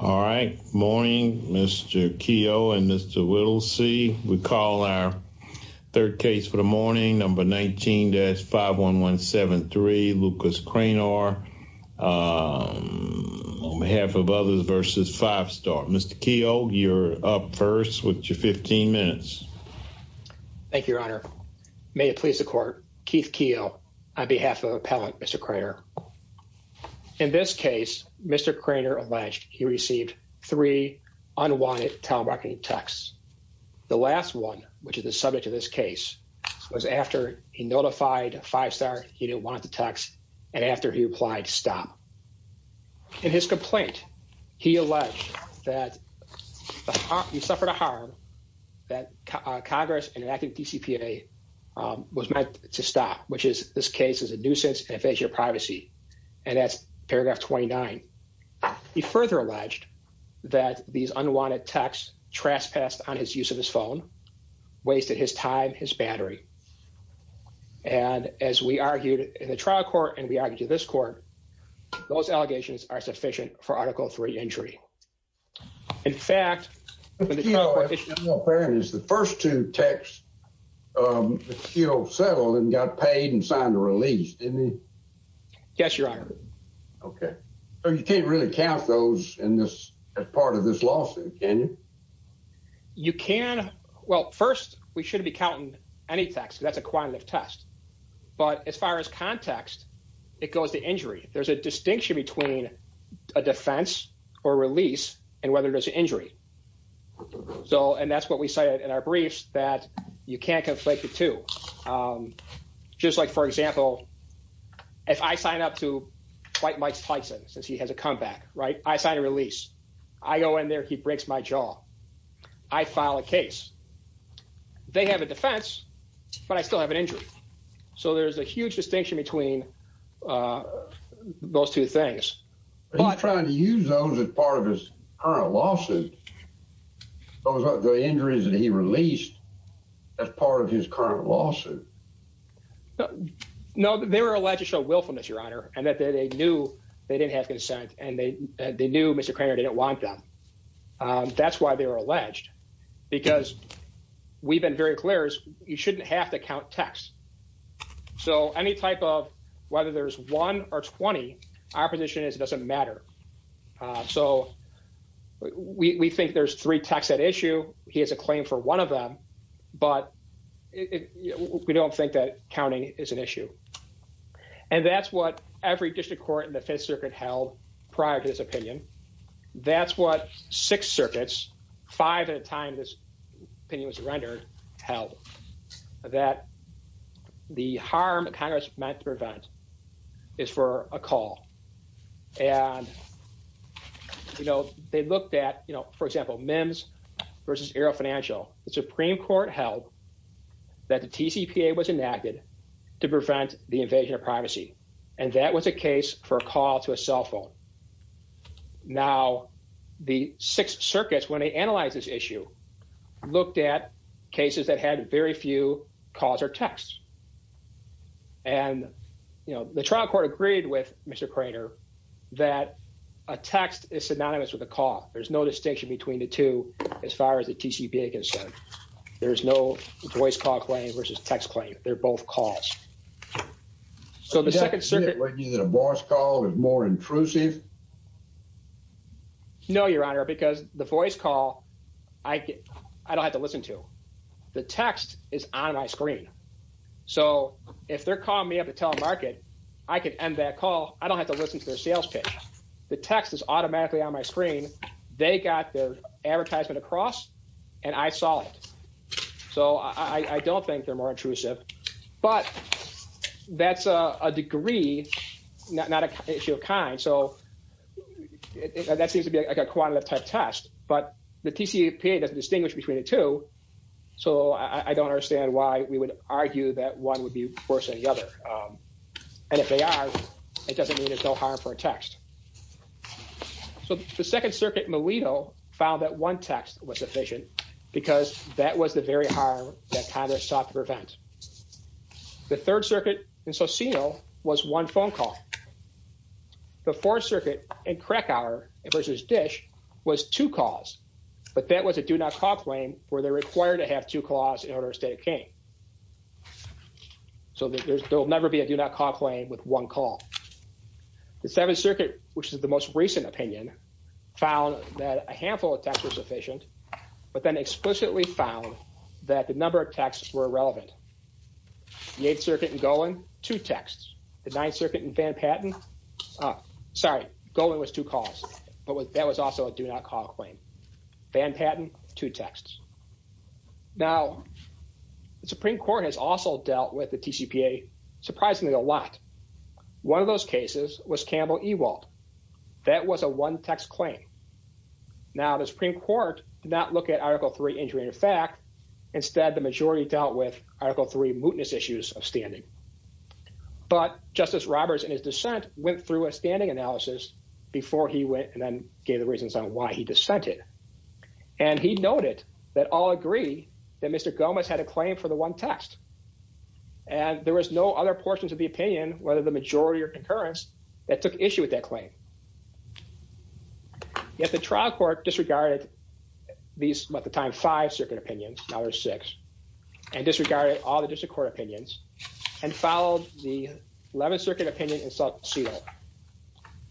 All right. Morning, Mr. Keough and Mr. Whittlesey. We call our third case for the morning, number 19-51173, Lucas Cranor, on behalf of Others v. 5 Star. Mr. Keough, you're up first with your 15 minutes. Thank you, Your Honor. May it please the Court, Keith Keough on behalf of Appellant Mr. Cranor. In this case, Mr. Cranor alleged he received three unwanted telemarketing texts. The last one, which is the subject of this case, was after he notified 5 Star he didn't want the texts and after he applied to stop. In his complaint, he alleged that he suffered a harm, that Congress enacted DCPA was meant to stop, which is this case is a nuisance and affects your privacy. And that's paragraph 29. He further alleged that these unwanted texts trespassed on his use of his phone, wasted his time, his battery. And as we argued in the trial court and we argued to this court, those allegations are sufficient for Article 3 injury. In fact, the first two texts, you know, settled and got paid and signed a release. Yes, Your Honor. OK, so you can't really count those in this part of this lawsuit, can you? You can. Well, first, we should be counting any text. That's a quantitative test. But as far as context, it goes to injury. There's a distinction between a defense or release and whether there's an injury. So and that's what we cited in our briefs that you can't conflate the two. Just like, for example, if I sign up to fight Mike Tyson since he has a comeback. Right. I sign a release. I go in there. He breaks my jaw. I file a case. They have a defense, but I still have an injury. So there's a huge distinction between those two things. I'm trying to use those as part of his current lawsuit. Those are the injuries that he released as part of his current lawsuit. No, they were alleged to show willfulness, Your Honor, and that they knew they didn't have consent and they they knew Mr. Cranor didn't want them. That's why they were alleged, because we've been very clear. You shouldn't have to count text. So any type of whether there's one or 20. Our position is it doesn't matter. So we think there's three texts at issue. He has a claim for one of them, but we don't think that counting is an issue. And that's what every district court in the Fifth Circuit held prior to this opinion. That's what six circuits, five at a time, this opinion was rendered held that the harm Congress meant to prevent is for a call. And, you know, they looked at, you know, for example, MIMS versus Aero Financial. The Supreme Court held that the TCPA was enacted to prevent the invasion of privacy. And that was a case for a call to a cell phone. Now, the six circuits, when they analyze this issue, looked at cases that had very few calls or texts. And, you know, the trial court agreed with Mr. Cranor that a text is synonymous with a call. There's no distinction between the two. As far as the TCPA concerned, there is no voice call claim versus text claim. They're both calls. So the second circuit. A voice call is more intrusive. No, Your Honor, because the voice call I get, I don't have to listen to the text is on my screen. So if they're calling me up to tell a market, I could end that call. I don't have to listen to their sales pitch. The text is automatically on my screen. They got the advertisement across and I saw it. So I don't think they're more intrusive, but that's a degree, not an issue of kind. So that seems to be like a quantitative test, but the TCPA doesn't distinguish between the two. So I don't understand why we would argue that one would be worse than the other. And if they are, it doesn't mean it's no harm for a text. So the second circuit, Milito, found that one text was sufficient because that was the very harm that Congress sought to prevent. The third circuit in Socino was one phone call. The fourth circuit in Krakauer versus Dish was two calls, but that was a do not call claim where they're required to have two calls in order to stay at gain. So there will never be a do not call claim with one call. The seventh circuit, which is the most recent opinion, found that a handful of texts were sufficient, but then explicitly found that the number of texts were irrelevant. The eighth circuit in Golan, two texts. The ninth circuit in Van Patten, sorry, Golan was two calls, but that was also a do not call claim. Van Patten, two texts. Now, the Supreme Court has also dealt with the TCPA surprisingly a lot. One of those cases was Campbell Ewald. That was a one text claim. Now, the Supreme Court did not look at Article III injury in effect. Instead, the majority dealt with Article III mootness issues of standing. But Justice Roberts, in his dissent, went through a standing analysis before he went and then gave the reasons on why he dissented. And he noted that all agree that Mr. Gomez had a claim for the one text. And there was no other portions of the opinion, whether the majority or concurrence, that took issue with that claim. Yet the trial court disregarded these, at the time, five circuit opinions. Now there's six. And disregarded all the district court opinions and followed the 11th circuit opinion in Salt Cedar,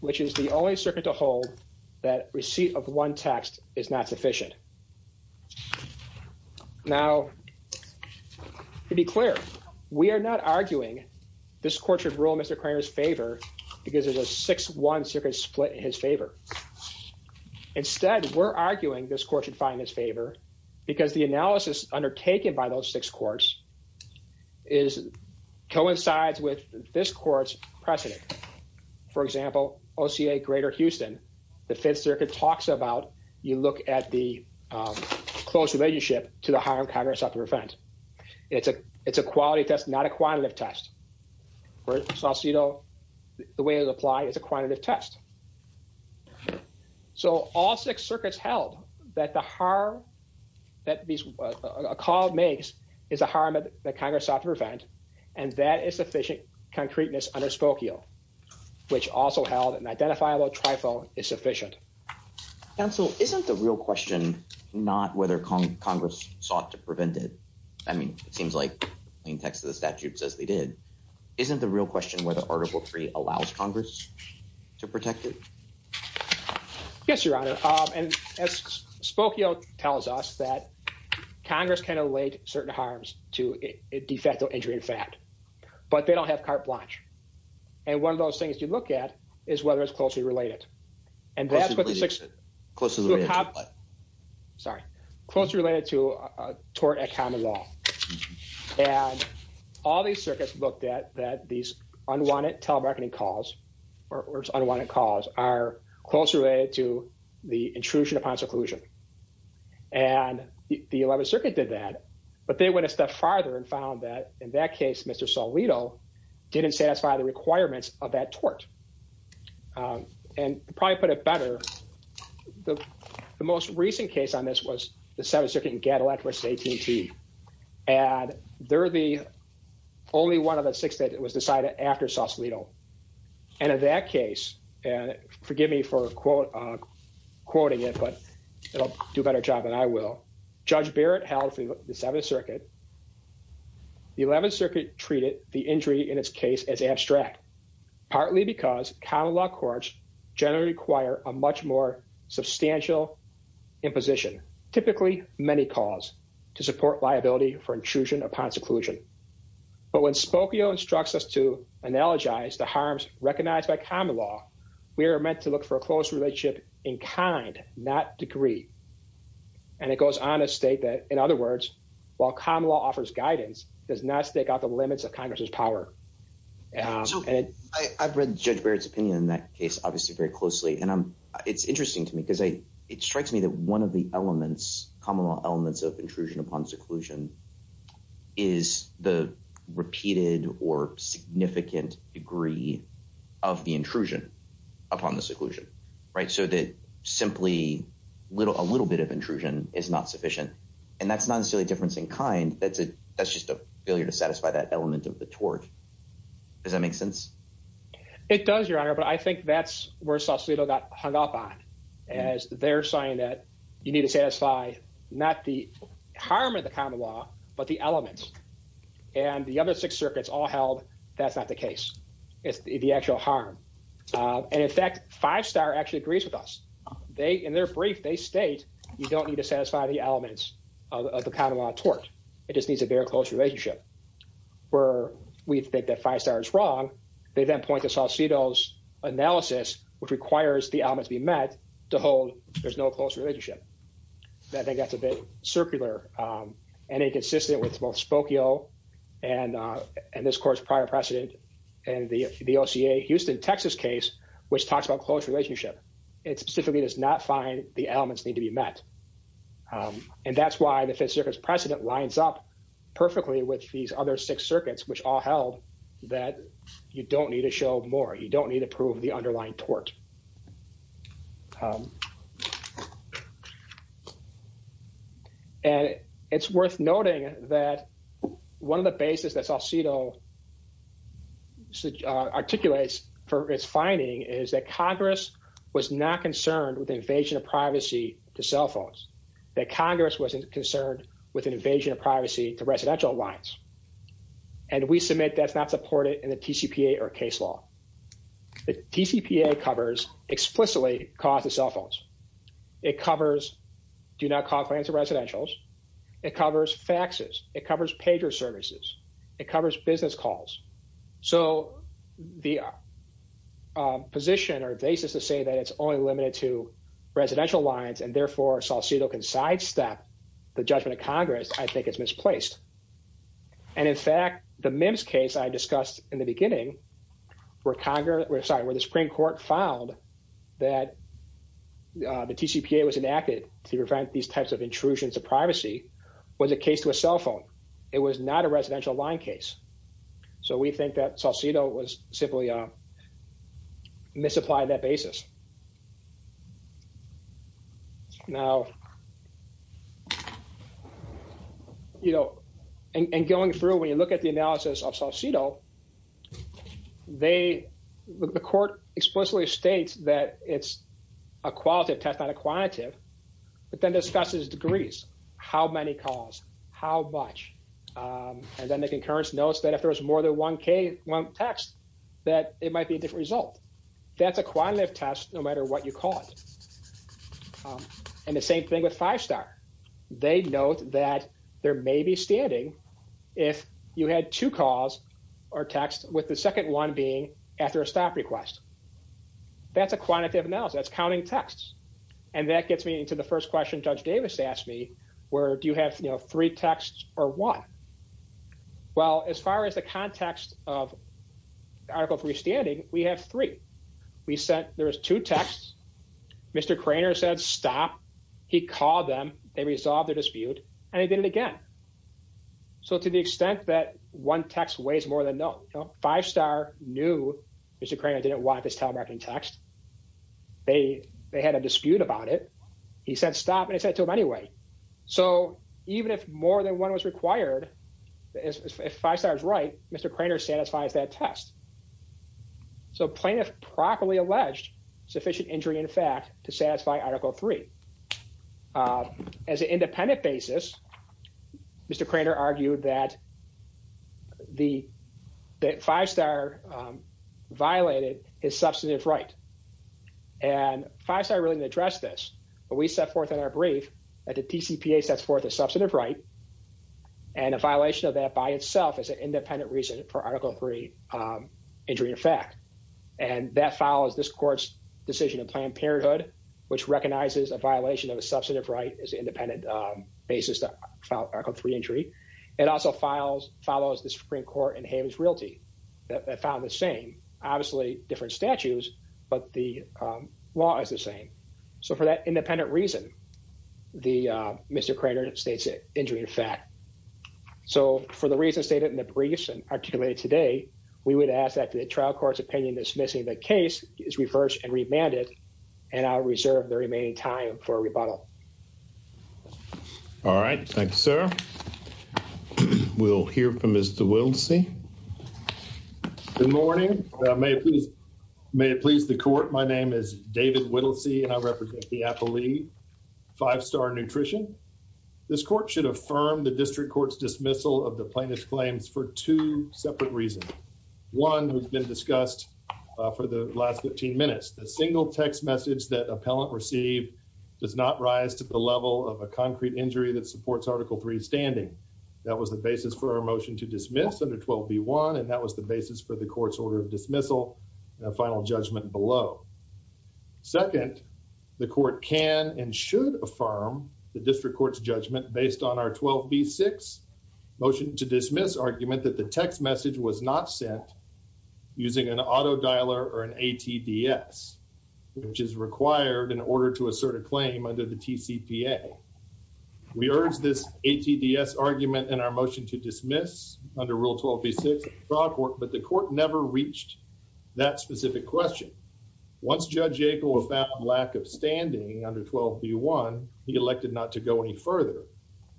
which is the only circuit to hold that receipt of one text is not sufficient. Now, to be clear, we are not arguing this court should rule Mr. Cranor's favor because there's a 6-1 circuit split in his favor. Instead, we're arguing this court should find his favor because the analysis undertaken by those six courts coincides with this court's precedent. For example, OCA Greater Houston, the 5th Circuit talks about, you look at the close relationship to the harm Congress sought to prevent. It's a quality test, not a quantitative test. For Salt Cedar, the way it was applied is a quantitative test. So all six circuits held that the harm that a call makes is a harm that Congress sought to prevent, and that is sufficient concreteness underspoken, which also held an identifiable trifle is sufficient. Counsel, isn't the real question not whether Congress sought to prevent it? I mean, it seems like plain text of the statute says they did. Isn't the real question whether Article III allows Congress to protect it? Yes, Your Honor, and as Spokio tells us, that Congress can allege certain harms to a de facto injury in fact, but they don't have carte blanche. And one of those things you look at is whether it's closely related. Closely related to what? Sorry, closely related to a tort at common law. And all these circuits looked at that these unwanted telemarketing calls or unwanted calls are closely related to the intrusion upon seclusion. And the 11th Circuit did that, but they went a step farther and found that in that case, Mr. Solito didn't satisfy the requirements of that tort. And probably put it better. The most recent case on this was the 7th Circuit in Gattalett versus AT&T, and they're the only one of the six that was decided after Solito. And in that case, and forgive me for quoting it, but it'll do a better job than I will. Judge Barrett held for the 7th Circuit. The 11th Circuit treated the injury in its case as abstract, partly because common law courts generally require a much more substantial imposition, typically many calls, to support liability for intrusion upon seclusion. But when Spokio instructs us to analogize the harms recognized by common law, we are meant to look for a close relationship in kind, not degree. And it goes on to state that, in other words, while common law offers guidance, it does not stake out the limits of Congress's power. So I've read Judge Barrett's opinion in that case, obviously, very closely. And it's interesting to me because it strikes me that one of the elements, common law elements of intrusion upon seclusion, is the repeated or significant degree of the intrusion upon the seclusion. So that simply a little bit of intrusion is not sufficient. And that's not necessarily a difference in kind. That's just a failure to satisfy that element of the tort. Does that make sense? It does, Your Honor, but I think that's where Solito got hung up on, as they're saying that you need to satisfy not the harm of the common law, but the elements. And the other six circuits all held that's not the case. It's the actual harm. And, in fact, Five Star actually agrees with us. In their brief, they state you don't need to satisfy the elements of the common law tort. It just needs a very close relationship. Where we think that Five Star is wrong, they then point to Solito's analysis, which requires the elements be met, to hold there's no close relationship. I think that's a bit circular and inconsistent with both Spokio and this Court's prior precedent and the OCA Houston-Texas case, which talks about close relationship. It specifically does not find the elements need to be met. And that's why the Fifth Circuit's precedent lines up perfectly with these other six circuits, which all held that you don't need to show more. You don't need to prove the underlying tort. And it's worth noting that one of the basis that Solito articulates for its finding is that Congress was not concerned with invasion of privacy to cell phones. That Congress wasn't concerned with an invasion of privacy to residential lines. And we submit that's not supported in the TCPA or case law. The TCPA covers explicitly the cause of cell phones. It covers do not call clients to residentials. It covers faxes. It covers pager services. It covers business calls. So the position or basis to say that it's only limited to residential lines and therefore Solito can sidestep the judgment of Congress, I think it's misplaced. And in fact, the MIMS case I discussed in the beginning where Congress, sorry, where the Supreme Court found that the TCPA was enacted to prevent these types of intrusions to privacy was a case to a cell phone. It was not a residential line case. So we think that Solito was simply misapplied that basis. Now, you know, and going through when you look at the analysis of Solito, they, the court explicitly states that it's a qualitative test, not a quantitative, but then discusses degrees, how many calls, how much. And then the concurrence notes that if there was more than one case, one text, that it might be a different result. That's a quantitative test, no matter what you call it. And the same thing with Five Star. They note that there may be standing if you had two calls or texts with the second one being after a stop request. That's a quantitative analysis. That's counting texts. And that gets me into the first question Judge Davis asked me, where do you have, you know, three texts or one? Well, as far as the context of Article 3 standing, we have three. We said there was two texts. Mr. Cranor said stop. He called them. They resolved their dispute. And he did it again. So to the extent that one text weighs more than no, Five Star knew Mr. Cranor didn't want this telemarketing text. They had a dispute about it. He said stop. And he said it to them anyway. So even if more than one was required, if Five Star is right, Mr. Cranor satisfies that test. So plaintiff properly alleged sufficient injury in fact to satisfy Article 3. As an independent basis, Mr. Cranor argued that Five Star violated his substantive right. And Five Star really didn't address this. But we set forth in our brief that the TCPA sets forth a substantive right. And a violation of that by itself is an independent reason for Article 3 injury in fact. And that follows this court's decision in Planned Parenthood, which recognizes a violation of a substantive right as an independent basis to file Article 3 injury. It also follows the Supreme Court in Hayman's Realty that found the same. Obviously different statutes, but the law is the same. So for that independent reason, Mr. Cranor states injury in fact. So for the reasons stated in the briefs and articulated today, we would ask that the trial court's opinion dismissing the case is reversed and remanded. And I'll reserve the remaining time for a rebuttal. All right. Thank you, sir. We'll hear from Mr. Whittlesey. Good morning. May it please the court. My name is David Whittlesey, and I represent the Appalachian Five Star Nutrition. This court should affirm the district court's dismissal of the plaintiff's claims for two separate reasons. One has been discussed for the last 15 minutes. The single text message that appellant received does not rise to the level of a concrete injury that supports Article 3 standing. That was the basis for our motion to dismiss under 12B1. And that was the basis for the court's order of dismissal and a final judgment below. Second, the court can and should affirm the district court's judgment based on our 12B6 motion to dismiss argument that the text message was not sent using an auto dialer or an ATDS, which is required in order to assert a claim under the TCPA. We urge this ATDS argument in our motion to dismiss under Rule 12B6, but the court never reached that specific question. Once Judge Yackel found lack of standing under 12B1, he elected not to go any further.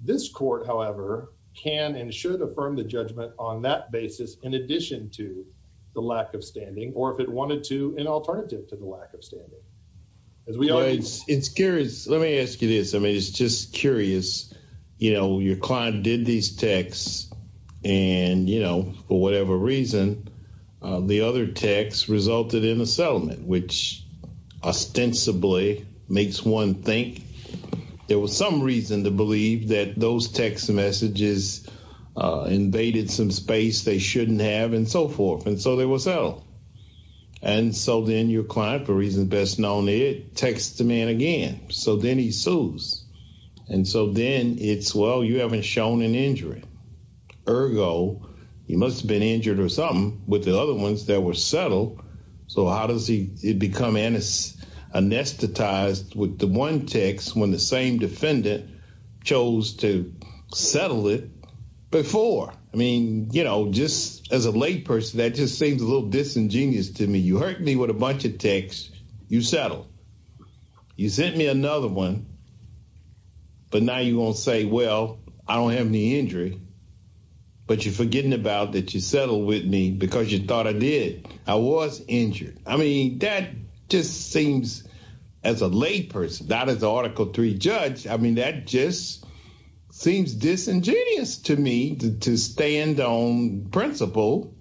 This court, however, can and should affirm the judgment on that basis in addition to the lack of standing, or if it wanted to, an alternative to the lack of standing. It's curious. Let me ask you this. I mean, it's just curious. You know, your client did these texts, and, you know, for whatever reason, the other text resulted in a settlement, which ostensibly makes one think there was some reason to believe that those text messages invaded some space they shouldn't have and so forth. And so they were settled. And so then your client, for reasons best known to it, texts the man again. So then he sues. And so then it's, well, you haven't shown an injury. Ergo, he must have been injured or something with the other ones that were settled. So how does he become anesthetized with the one text when the same defendant chose to settle it before? I mean, you know, just as a layperson, that just seems a little disingenuous to me. You hurt me with a bunch of texts. You settled. You sent me another one. But now you're going to say, well, I don't have any injury. But you're forgetting about that you settled with me because you thought I did. I was injured. I mean, that just seems, as a layperson, not as an Article III judge, I mean, that just seems disingenuous to me to stand on principle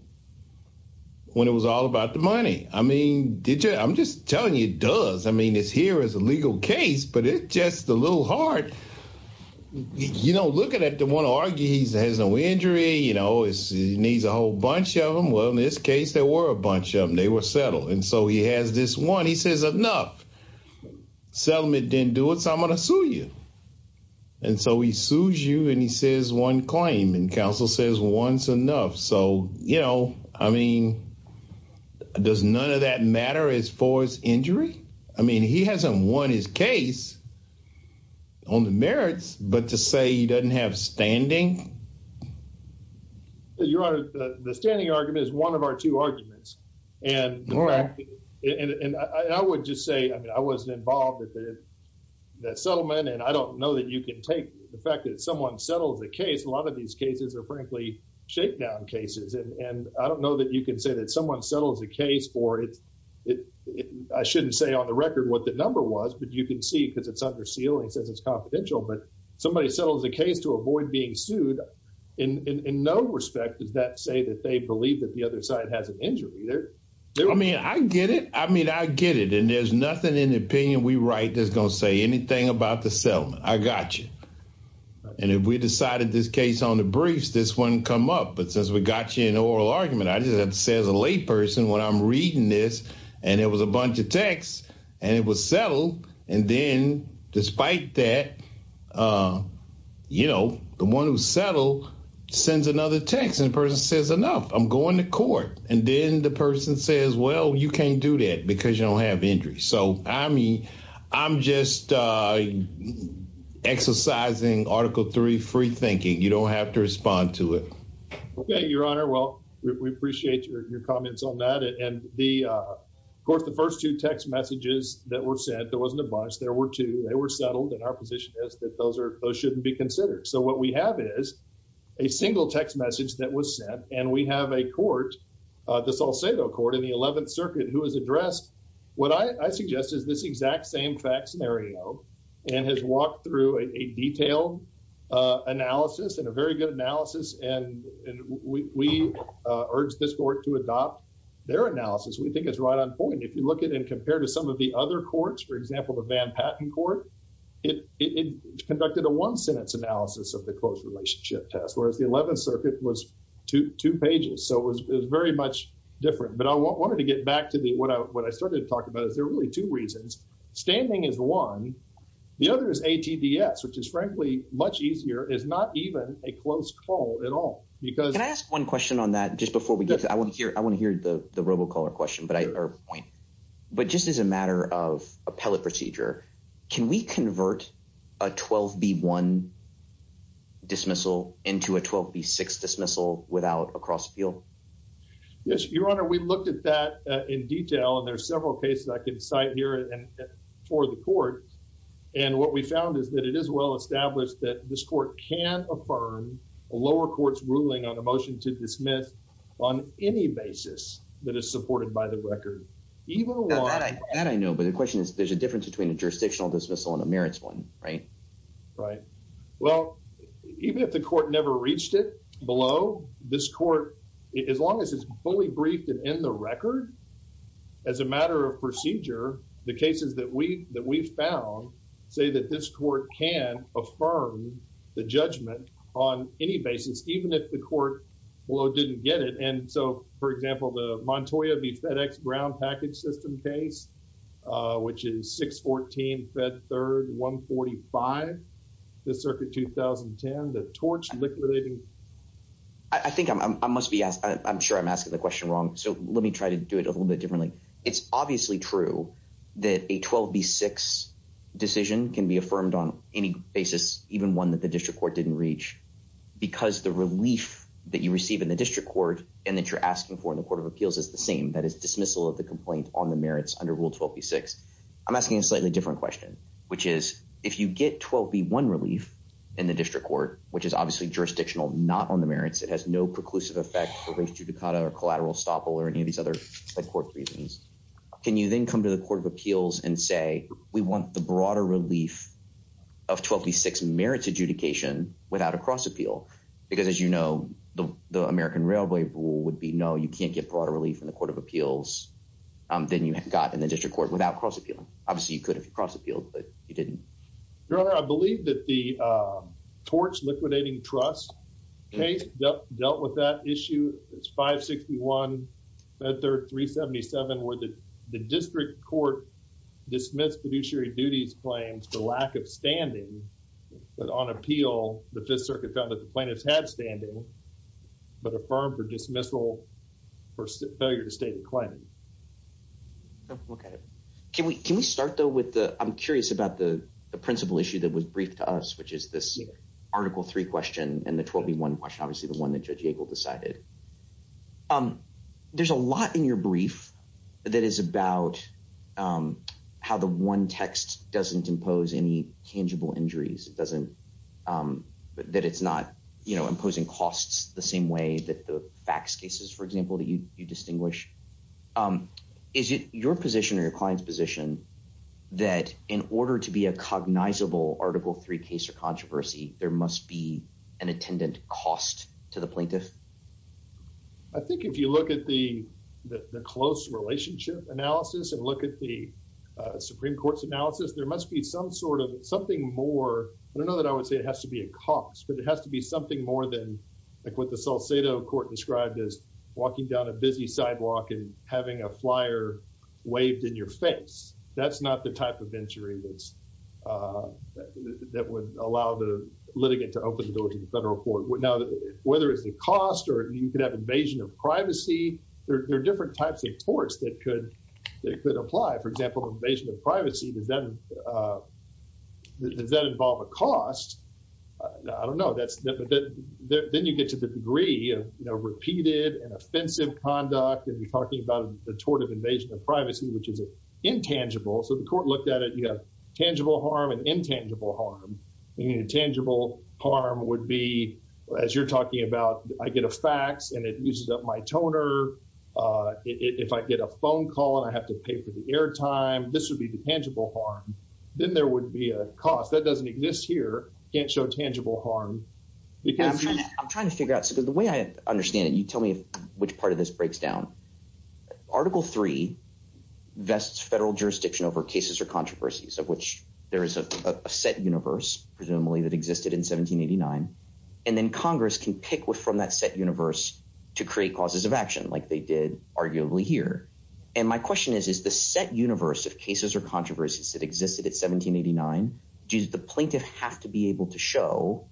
when it was all about the money. I mean, I'm just telling you it does. I mean, it's here as a legal case, but it's just a little hard. You know, looking at the one who argues he has no injury, you know, he needs a whole bunch of them. Well, in this case, there were a bunch of them. They were settled. And so he has this one. He says, enough. Settlement didn't do it, so I'm going to sue you. And so he sues you, and he says one claim. And counsel says once enough. So, you know, I mean, does none of that matter as far as injury? I mean, he hasn't won his case on the merits, but to say he doesn't have standing? Your Honor, the standing argument is one of our two arguments. And I would just say, I mean, I wasn't involved with the settlement, and I don't know that you can take the fact that someone settles a case. A lot of these cases are, frankly, shakedown cases. And I don't know that you can say that someone settles a case for it. I shouldn't say on the record what the number was, but you can see because it's under seal and it says it's confidential. But somebody settles a case to avoid being sued. In no respect does that say that they believe that the other side has an injury. I mean, I get it. I mean, I get it. And there's nothing in the opinion we write that's going to say anything about the settlement. I got you. And if we decided this case on the briefs, this wouldn't come up. But since we got you in an oral argument, I just have to say as a layperson when I'm reading this, and it was a bunch of text, and it was settled. And then despite that, you know, the one who settled sends another text. And the person says, enough. I'm going to court. And then the person says, well, you can't do that because you don't have injuries. So, I mean, I'm just exercising Article III free thinking. You don't have to respond to it. Okay, Your Honor. Well, we appreciate your comments on that. Of course, the first two text messages that were sent, there wasn't a bunch. There were two. They were settled. And our position is that those shouldn't be considered. So, what we have is a single text message that was sent. And we have a court, the Salcedo Court in the 11th Circuit, who has addressed what I suggest is this exact same fact scenario and has walked through a detailed analysis and a very good analysis. And we urge this court to adopt their analysis. We think it's right on point. If you look at and compare to some of the other courts, for example, the Van Patten Court, it conducted a one-sentence analysis of the close relationship test, whereas the 11th Circuit was two pages. So, it was very much different. But I wanted to get back to what I started to talk about is there are really two reasons. Standing is one. The other is ATDS, which is frankly much easier. It's not even a close call at all. Can I ask one question on that just before we get to it? I want to hear the robocaller question or point. But just as a matter of appellate procedure, can we convert a 12B1 dismissal into a 12B6 dismissal without a cross-appeal? Yes, Your Honor. We looked at that in detail. And there are several cases I can cite here for the court. And what we found is that it is well established that this court can affirm a lower court's ruling on a motion to dismiss on any basis that is supported by the record. That I know, but the question is there's a difference between a jurisdictional dismissal and a merits one, right? Right. Well, even if the court never reached it below, this court, as long as it's fully briefed and in the record, as a matter of procedure, the cases that we found say that this court can affirm the judgment on any basis, even if the court below didn't get it. And so, for example, the Montoya v. FedEx Brown package system case, which is 614 Fed Third 145, the circuit 2010, the torch liquidating. I think I must be asked. I'm sure I'm asking the question wrong. So let me try to do it a little bit differently. It's obviously true that a 12 B6 decision can be affirmed on any basis, even one that the district court didn't reach because the relief that you receive in the district court and that you're asking for in the court of appeals is the same. That is dismissal of the complaint on the merits under Rule 12 B6. I'm asking a slightly different question, which is if you get 12 B1 relief in the district court, which is obviously jurisdictional, not on the merits. It has no preclusive effect for race, judicata or collateral estoppel or any of these other court reasons. Can you then come to the court of appeals and say we want the broader relief of 12 B6 merits adjudication without a cross appeal? Because, as you know, the American Railway rule would be no, you can't get broader relief in the court of appeals. Then you got in the district court without cross appeal. Obviously, you could have cross appealed, but you didn't. Your Honor, I believe that the torch liquidating trust case dealt with that issue. It's 561, 377 where the district court dismissed fiduciary duties claims for lack of standing. But on appeal, the Fifth Circuit found that the plaintiffs had standing, but affirmed for dismissal for failure to state the claim. OK, can we can we start, though, with the I'm curious about the principal issue that was briefed to us, which is this article three question and the 12 B1 question, obviously the one that Judge Yagle decided. There's a lot in your brief that is about how the one text doesn't impose any tangible injuries. It doesn't that it's not imposing costs the same way that the fax cases, for example, that you distinguish. Is it your position or your client's position that in order to be a cognizable Article three case or controversy, there must be an attendant cost to the plaintiff? I think if you look at the the close relationship analysis and look at the Supreme Court's analysis, there must be some sort of something more. I don't know that I would say it has to be a cost, but it has to be something more than like what the Salcedo court described as walking down a busy sidewalk and having a flyer waved in your face. That's not the type of injury that's that would allow the litigant to open the door to the federal court. Now, whether it's the cost or you could have invasion of privacy, there are different types of courts that could that could apply, for example, invasion of privacy. Does that does that involve a cost? I don't know. That's then you get to the degree of repeated and offensive conduct. And you're talking about the tort of invasion of privacy, which is intangible. So the court looked at it, you know, tangible harm and intangible harm, tangible harm would be as you're talking about. I get a fax and it uses up my toner. If I get a phone call and I have to pay for the airtime, this would be the tangible harm. Then there would be a cost that doesn't exist here. Can't show tangible harm. I'm trying to figure out the way I understand it. You tell me which part of this breaks down. Article three vests federal jurisdiction over cases or controversies of which there is a set universe, presumably that existed in 1789. And then Congress can pick from that set universe to create causes of action like they did arguably here. And my question is, is the set universe of cases or controversies that existed in 1789? Does the plaintiff have to be able to show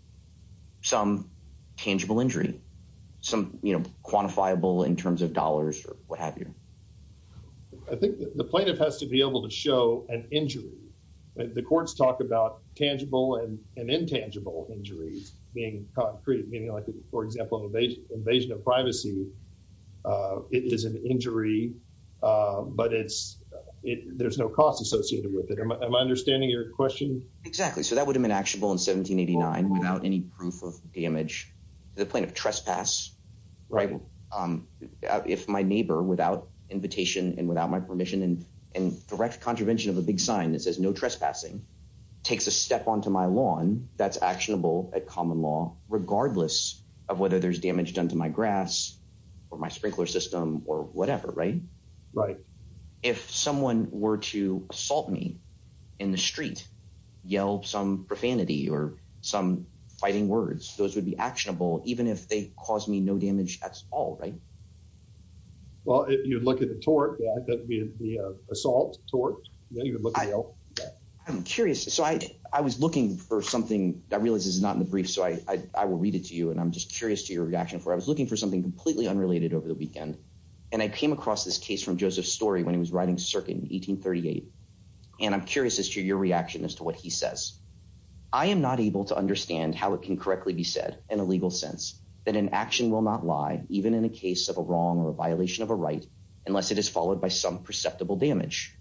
some tangible injury, some quantifiable in terms of dollars or what have you? I think the plaintiff has to be able to show an injury. The courts talk about tangible and intangible injuries being created, meaning, like, for example, invasion of privacy. It is an injury, but there's no cost associated with it. Am I understanding your question? Exactly. So that would have been actionable in 1789 without any proof of damage. The plaintiff trespass. Right. If my neighbor, without invitation and without my permission and direct contravention of a big sign that says no trespassing, takes a step onto my lawn, that's actionable at common law, regardless of whether there's damage done to my grass or my sprinkler system or whatever. Right. Right. If someone were to assault me in the street, yell some profanity or some fighting words, those would be actionable, even if they cause me no damage at all. Right. Well, if you look at the tort, the assault tort. I'm curious. So I was looking for something that I realize is not in the brief. So I will read it to you. And I'm just curious to your reaction for I was looking for something completely unrelated over the weekend. And I came across this case from Joseph Story when he was writing circuit in 1838. And I'm curious as to your reaction as to what he says. I am not able to understand how it can correctly be said in a legal sense that an action will not lie, even in a case of a wrong or a violation of a right, unless it is followed by some perceptible damage.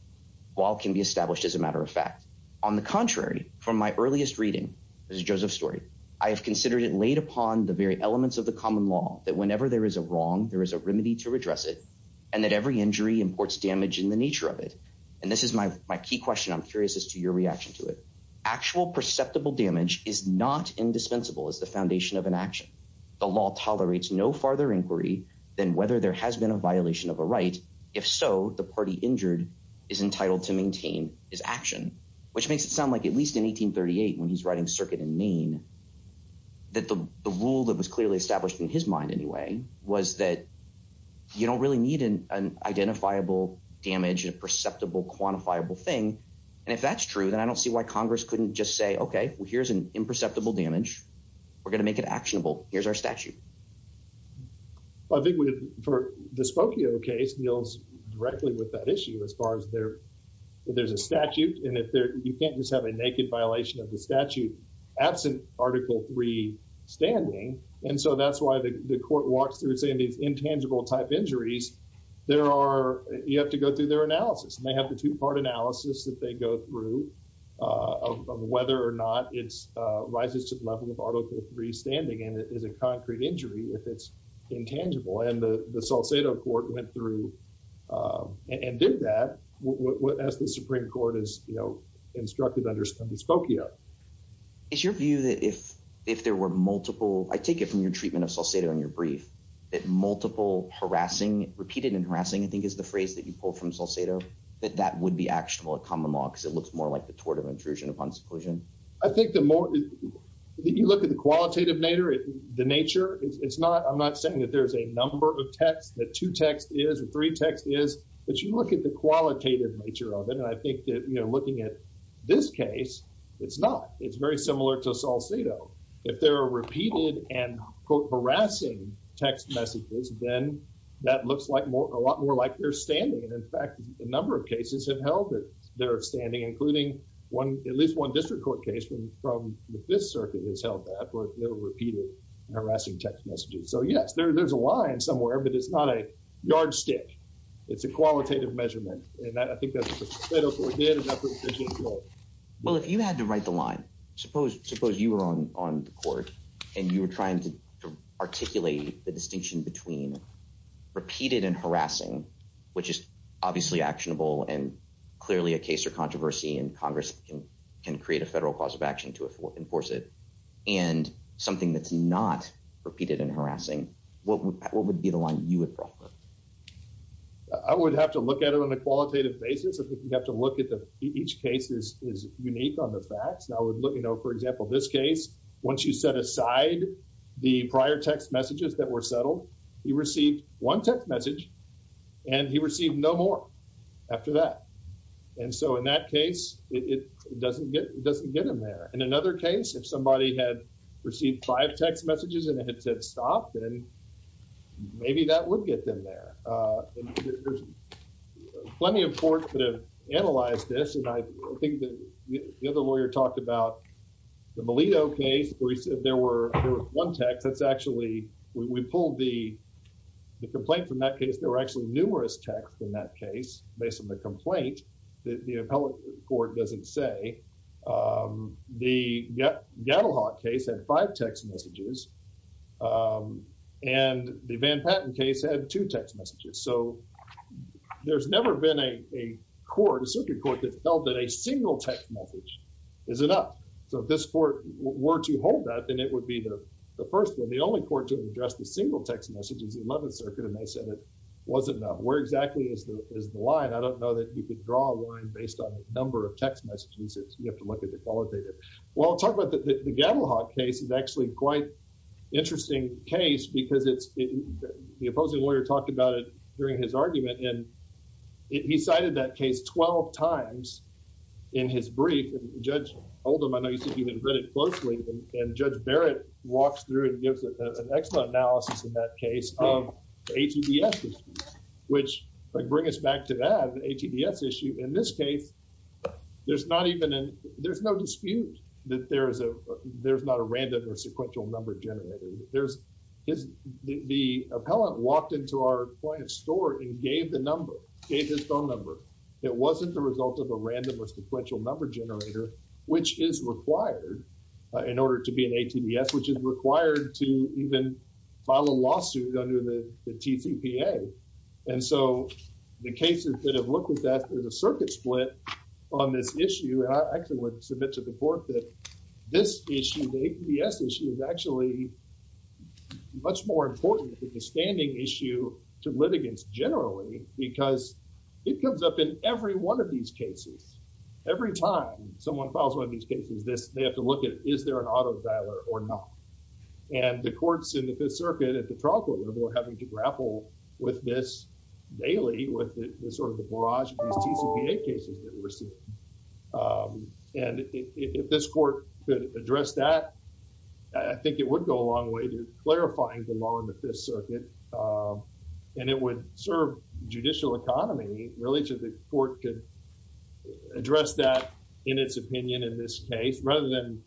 While can be established as a matter of fact, on the contrary, from my earliest reading, there's Joseph Story. I have considered it laid upon the very elements of the common law that whenever there is a wrong, there is a remedy to address it and that every injury imports damage in the nature of it. And this is my my key question. I'm curious as to your reaction to it. Actual perceptible damage is not indispensable as the foundation of an action. The law tolerates no farther inquiry than whether there has been a violation of a right. If so, the party injured is entitled to maintain his action, which makes it sound like at least in 1838 when he's writing circuit in Maine. That the rule that was clearly established in his mind anyway was that you don't really need an identifiable damage, a perceptible, quantifiable thing. And if that's true, then I don't see why Congress couldn't just say, OK, well, here's an imperceptible damage. We're going to make it actionable. Here's our statute. I think for the Spokane case deals directly with that issue as far as there there's a statute. And if you can't just have a naked violation of the statute absent Article three standing. And so that's why the court walks through saying these intangible type injuries. There are you have to go through their analysis and they have the two part analysis that they go through of whether or not it's rises to the level of Article three standing. And it is a concrete injury if it's intangible. And the Salcedo court went through and did that. And that's what the Supreme Court is instructed under Spokane. Is your view that if if there were multiple I take it from your treatment of Salcedo in your brief that multiple harassing repeated and harassing, I think, is the phrase that you pull from Salcedo. That that would be actionable at common law because it looks more like the tort of intrusion upon seclusion. I think the more you look at the qualitative nature, the nature, it's not I'm not saying that there's a number of text that two text is three text is. But you look at the qualitative nature of it. And I think that, you know, looking at this case, it's not it's very similar to Salcedo. If there are repeated and harassing text messages, then that looks like more a lot more like they're standing. And in fact, a number of cases have held that they're standing, including one at least one district court case from this circuit has held that repeated harassing text messages. So, yes, there's a line somewhere, but it's not a yardstick. It's a qualitative measurement. And I think that's what we did. Well, if you had to write the line, suppose suppose you were on on the court and you were trying to articulate the distinction between repeated and harassing, which is obviously actionable and clearly a case or controversy and Congress can can create a federal cause of action to enforce it and something that's not repeated and harassing. What would be the line you would prefer? I would have to look at it on a qualitative basis. I think you have to look at each case is unique on the facts. Now, look, you know, for example, this case, once you set aside the prior text messages that were settled, you received one text message and he received no more after that. And so in that case, it doesn't get it doesn't get in there. In another case, if somebody had received five text messages and it had said stop, then maybe that would get them there. There's plenty of courts that have analyzed this, and I think that the other lawyer talked about the Melito case where he said there were one text. That's actually we pulled the complaint from that case. There were actually numerous texts in that case based on the complaint that the appellate court doesn't say. The case had five text messages and the Van Patten case had two text messages. So there's never been a court, a circuit court that felt that a single text message is enough. So this court were to hold that, then it would be the first one. The only court to address the single text message is the 11th Circuit. And they said it wasn't enough. Where exactly is the line? I don't know that you could draw a line based on the number of text messages. You have to look at the qualitative. Well, talk about the Gaddlehawk case is actually quite interesting case because it's the opposing lawyer talked about it during his argument. And he cited that case 12 times in his brief. And Judge Oldham, I know you've even read it closely. And Judge Barrett walks through and gives an excellent analysis in that case of ATDS, which bring us back to that ATDS issue. In this case, there's not even there's no dispute that there is a there's not a random or sequential number generator. There's the appellant walked into our point of store and gave the number, gave his phone number. It wasn't the result of a random or sequential number generator, which is required in order to be an ATDS, which is required to even file a lawsuit under the TCPA. And so the cases that have looked at that, there's a circuit split on this issue. And I actually would submit to the court that this issue, the ATDS issue is actually much more important than the standing issue to litigants generally, because it comes up in every one of these cases. Every time someone files one of these cases, this they have to look at, is there an auto dialer or not? And the courts in the Fifth Circuit at the trial court level are having to grapple with this daily with sort of the barrage of these TCPA cases that we're seeing. And if this court could address that, I think it would go a long way to clarifying the law in the Fifth Circuit. And it would serve judicial economy, really, so the court could address that in its opinion in this case, rather than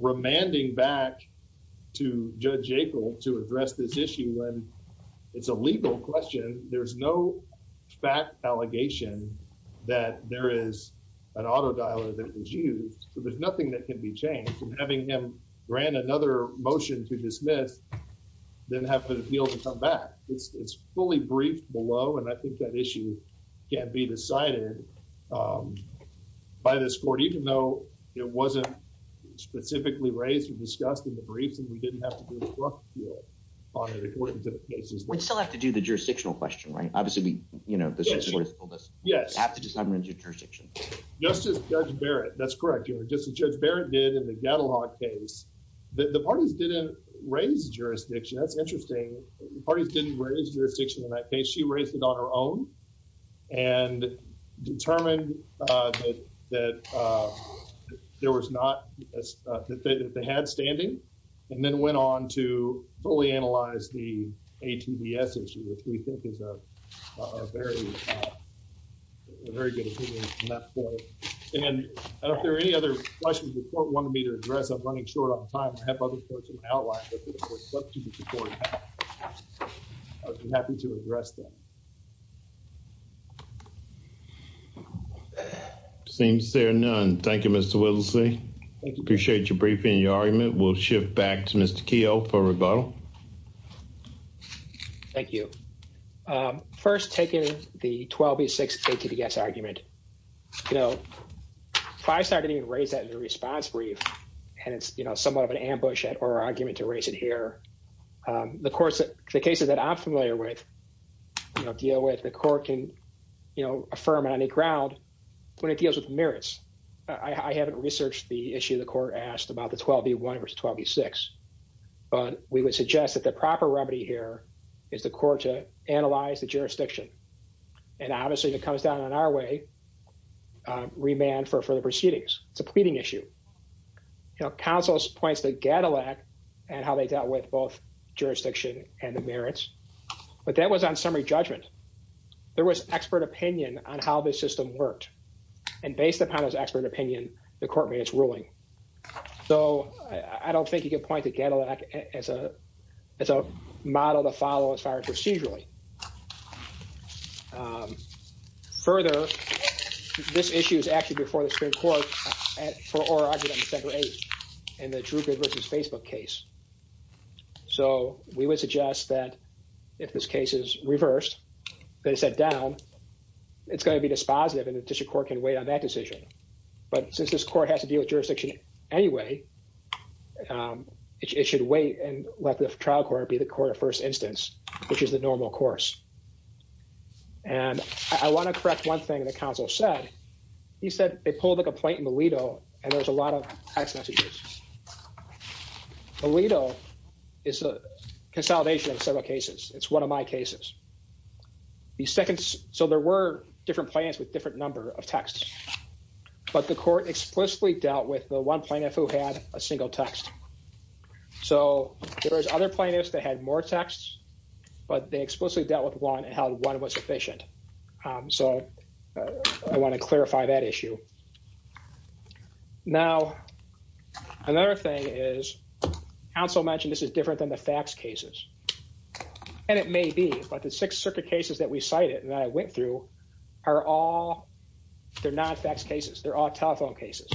remanding back to Judge Aple to address this issue when it's a legal question. There's no fact allegation that there is an auto dialer that is used. So there's nothing that can be changed, and having him grant another motion to dismiss, then have the appeal to come back. It's fully briefed below, and I think that issue can be decided by this court, even though it wasn't specifically raised or discussed in the briefs, and we didn't have to do a rough appeal on it according to the cases. We'd still have to do the jurisdictional question, right? Obviously, you know, this is sort of… Yes, yes. We'd have to determine the jurisdiction. Just as Judge Barrett, that's correct. Just as Judge Barrett did in the Gatalog case, the parties didn't raise jurisdiction. That's interesting. The parties didn't raise jurisdiction in that case. She raised it on her own, and determined that there was not…that they had standing, and then went on to fully analyze the ATDS issue, which we think is a very good opinion from that point. And if there are any other questions the court wanted me to address, I'm running short on time. I have other courts in my outline that the court would like to support. I'd be happy to address them. Seems there are none. Thank you, Mr. Wittlesee. Thank you. Appreciate your briefing and your argument. We'll shift back to Mr. Keogh for rebuttal. Thank you. First, taking the 12B6 ATDS argument, you know, FISA didn't even raise that in the response brief, and it's, you know, somewhat of an ambush or argument to raise it here. The courts that…the cases that I'm familiar with, you know, deal with, the court can, you know, affirm on any ground when it deals with merits. I haven't researched the issue the court asked about the 12B1 versus 12B6, but we would suggest that the proper remedy here is the court to analyze the jurisdiction. And obviously, if it comes down on our way, remand for further proceedings. It's a pleading issue. You know, counsel points to GADILAC and how they dealt with both jurisdiction and the merits, but that was on summary judgment. There was expert opinion on how this system worked, and based upon this expert opinion, the court made its ruling. So, I don't think you could point to GADILAC as a model to follow as far as procedurally. Further, this issue is actually before the Supreme Court for oral argument on December 8th in the Drupal versus Facebook case. So, we would suggest that if this case is reversed, that it's set down, it's going to be dispositive and the district court can wait on that decision. But since this court has to deal with jurisdiction anyway, it should wait and let the trial court be the court of first instance, which is the normal course. And I want to correct one thing that counsel said. He said they pulled a complaint in Aledo and there was a lot of text messages. Aledo is a consolidation of several cases. It's one of my cases. So, there were different plaintiffs with different number of texts, but the court explicitly dealt with the one plaintiff who had a single text. So, there was other plaintiffs that had more texts, but they explicitly dealt with one and held one was sufficient. So, I want to clarify that issue. Now, another thing is, counsel mentioned this is different than the fax cases. And it may be, but the Sixth Circuit cases that we cited and that I went through are all, they're not fax cases, they're all telephone cases.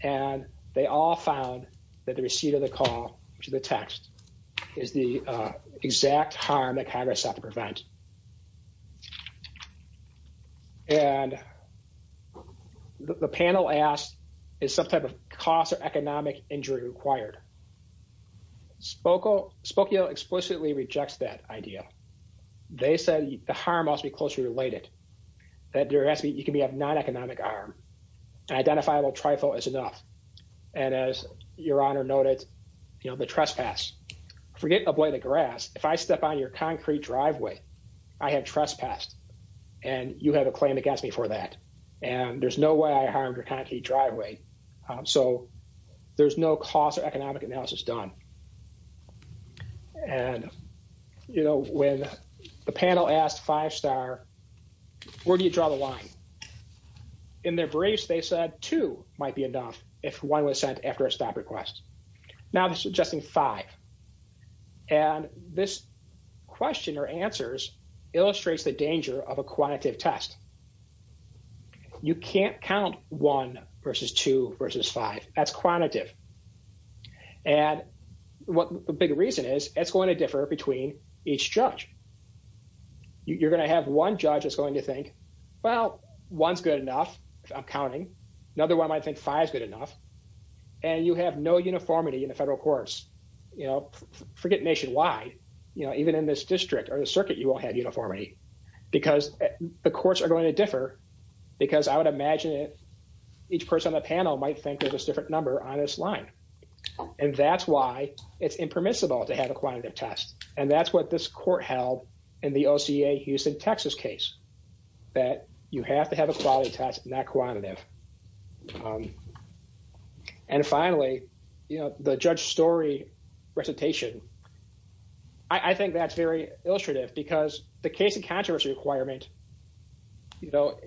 And they all found that the receipt of the call, which is the text, is the exact harm that Congress has to prevent. And the panel asked, is some type of cost or economic injury required? Spokio explicitly rejects that idea. They said the harm must be closely related, that there has to be, it can be a non-economic harm. Identifiable trifle is enough. And as Your Honor noted, you know, the trespass. Forget avoid the grass, if I step on your concrete driveway, I have trespassed and you have a claim against me for that. And there's no way I harmed your concrete driveway. So, there's no cost or economic analysis done. And, you know, when the panel asked Five Star, where do you draw the line? In their briefs, they said two might be enough if one was sent after a stop request. Now, they're suggesting five. And this question or answers illustrates the danger of a quantitative test. You can't count one versus two versus five. That's quantitative. And what the big reason is, it's going to differ between each judge. You're going to have one judge is going to think, well, one's good enough. I'm counting. Another one might think five is good enough. And you have no uniformity in the federal courts. You know, forget nationwide. You know, even in this district or the circuit, you won't have uniformity because the courts are going to differ. Because I would imagine each person on the panel might think there's a different number on this line. And that's why it's impermissible to have a quantitative test. And that's what this court held in the OCA Houston, Texas case. That you have to have a quality test, not quantitative. And finally, you know, the judge story recitation. I think that's very illustrative because the case of controversy requirement, you know,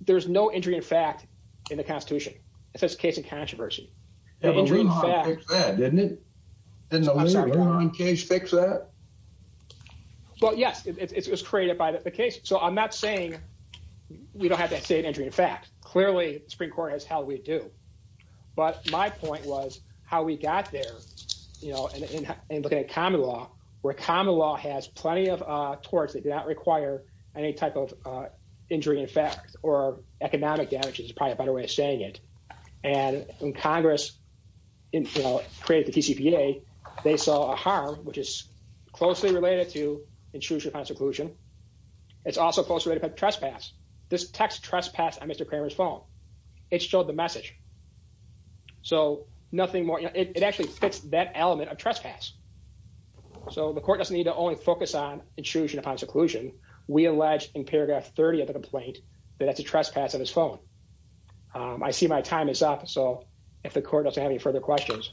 there's no injury in fact in the Constitution. It's just a case of controversy. Didn't the Lehigh case fix that? Well, yes, it was created by the case. So I'm not saying we don't have that same injury in fact. Clearly, the Supreme Court has held we do. But my point was how we got there, you know, and looking at common law, where common law has plenty of torts that do not require any type of injury in fact, or economic damages is probably a better way of saying it. And when Congress, you know, created the TCPA, they saw a harm, which is closely related to intrusion upon seclusion. It's also closely related to trespass. This text trespass on Mr. Kramer's phone. It showed the message. So nothing more, it actually fixed that element of trespass. So the court doesn't need to only focus on intrusion upon seclusion. We allege in paragraph 30 of the complaint that that's a trespass on his phone. I see my time is up. So if the court doesn't have any further questions.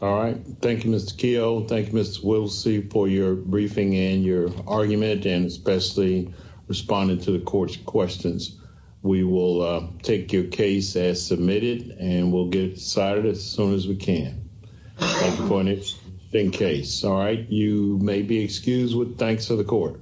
All right. Thank you, Mr. Keough. Thank you, Mr. Wilsey, for your briefing and your argument, and especially responding to the court's questions. We will take your case as submitted and we'll get it decided as soon as we can. Thank you, Courtney. In case, all right, you may be excused. Thanks to the court.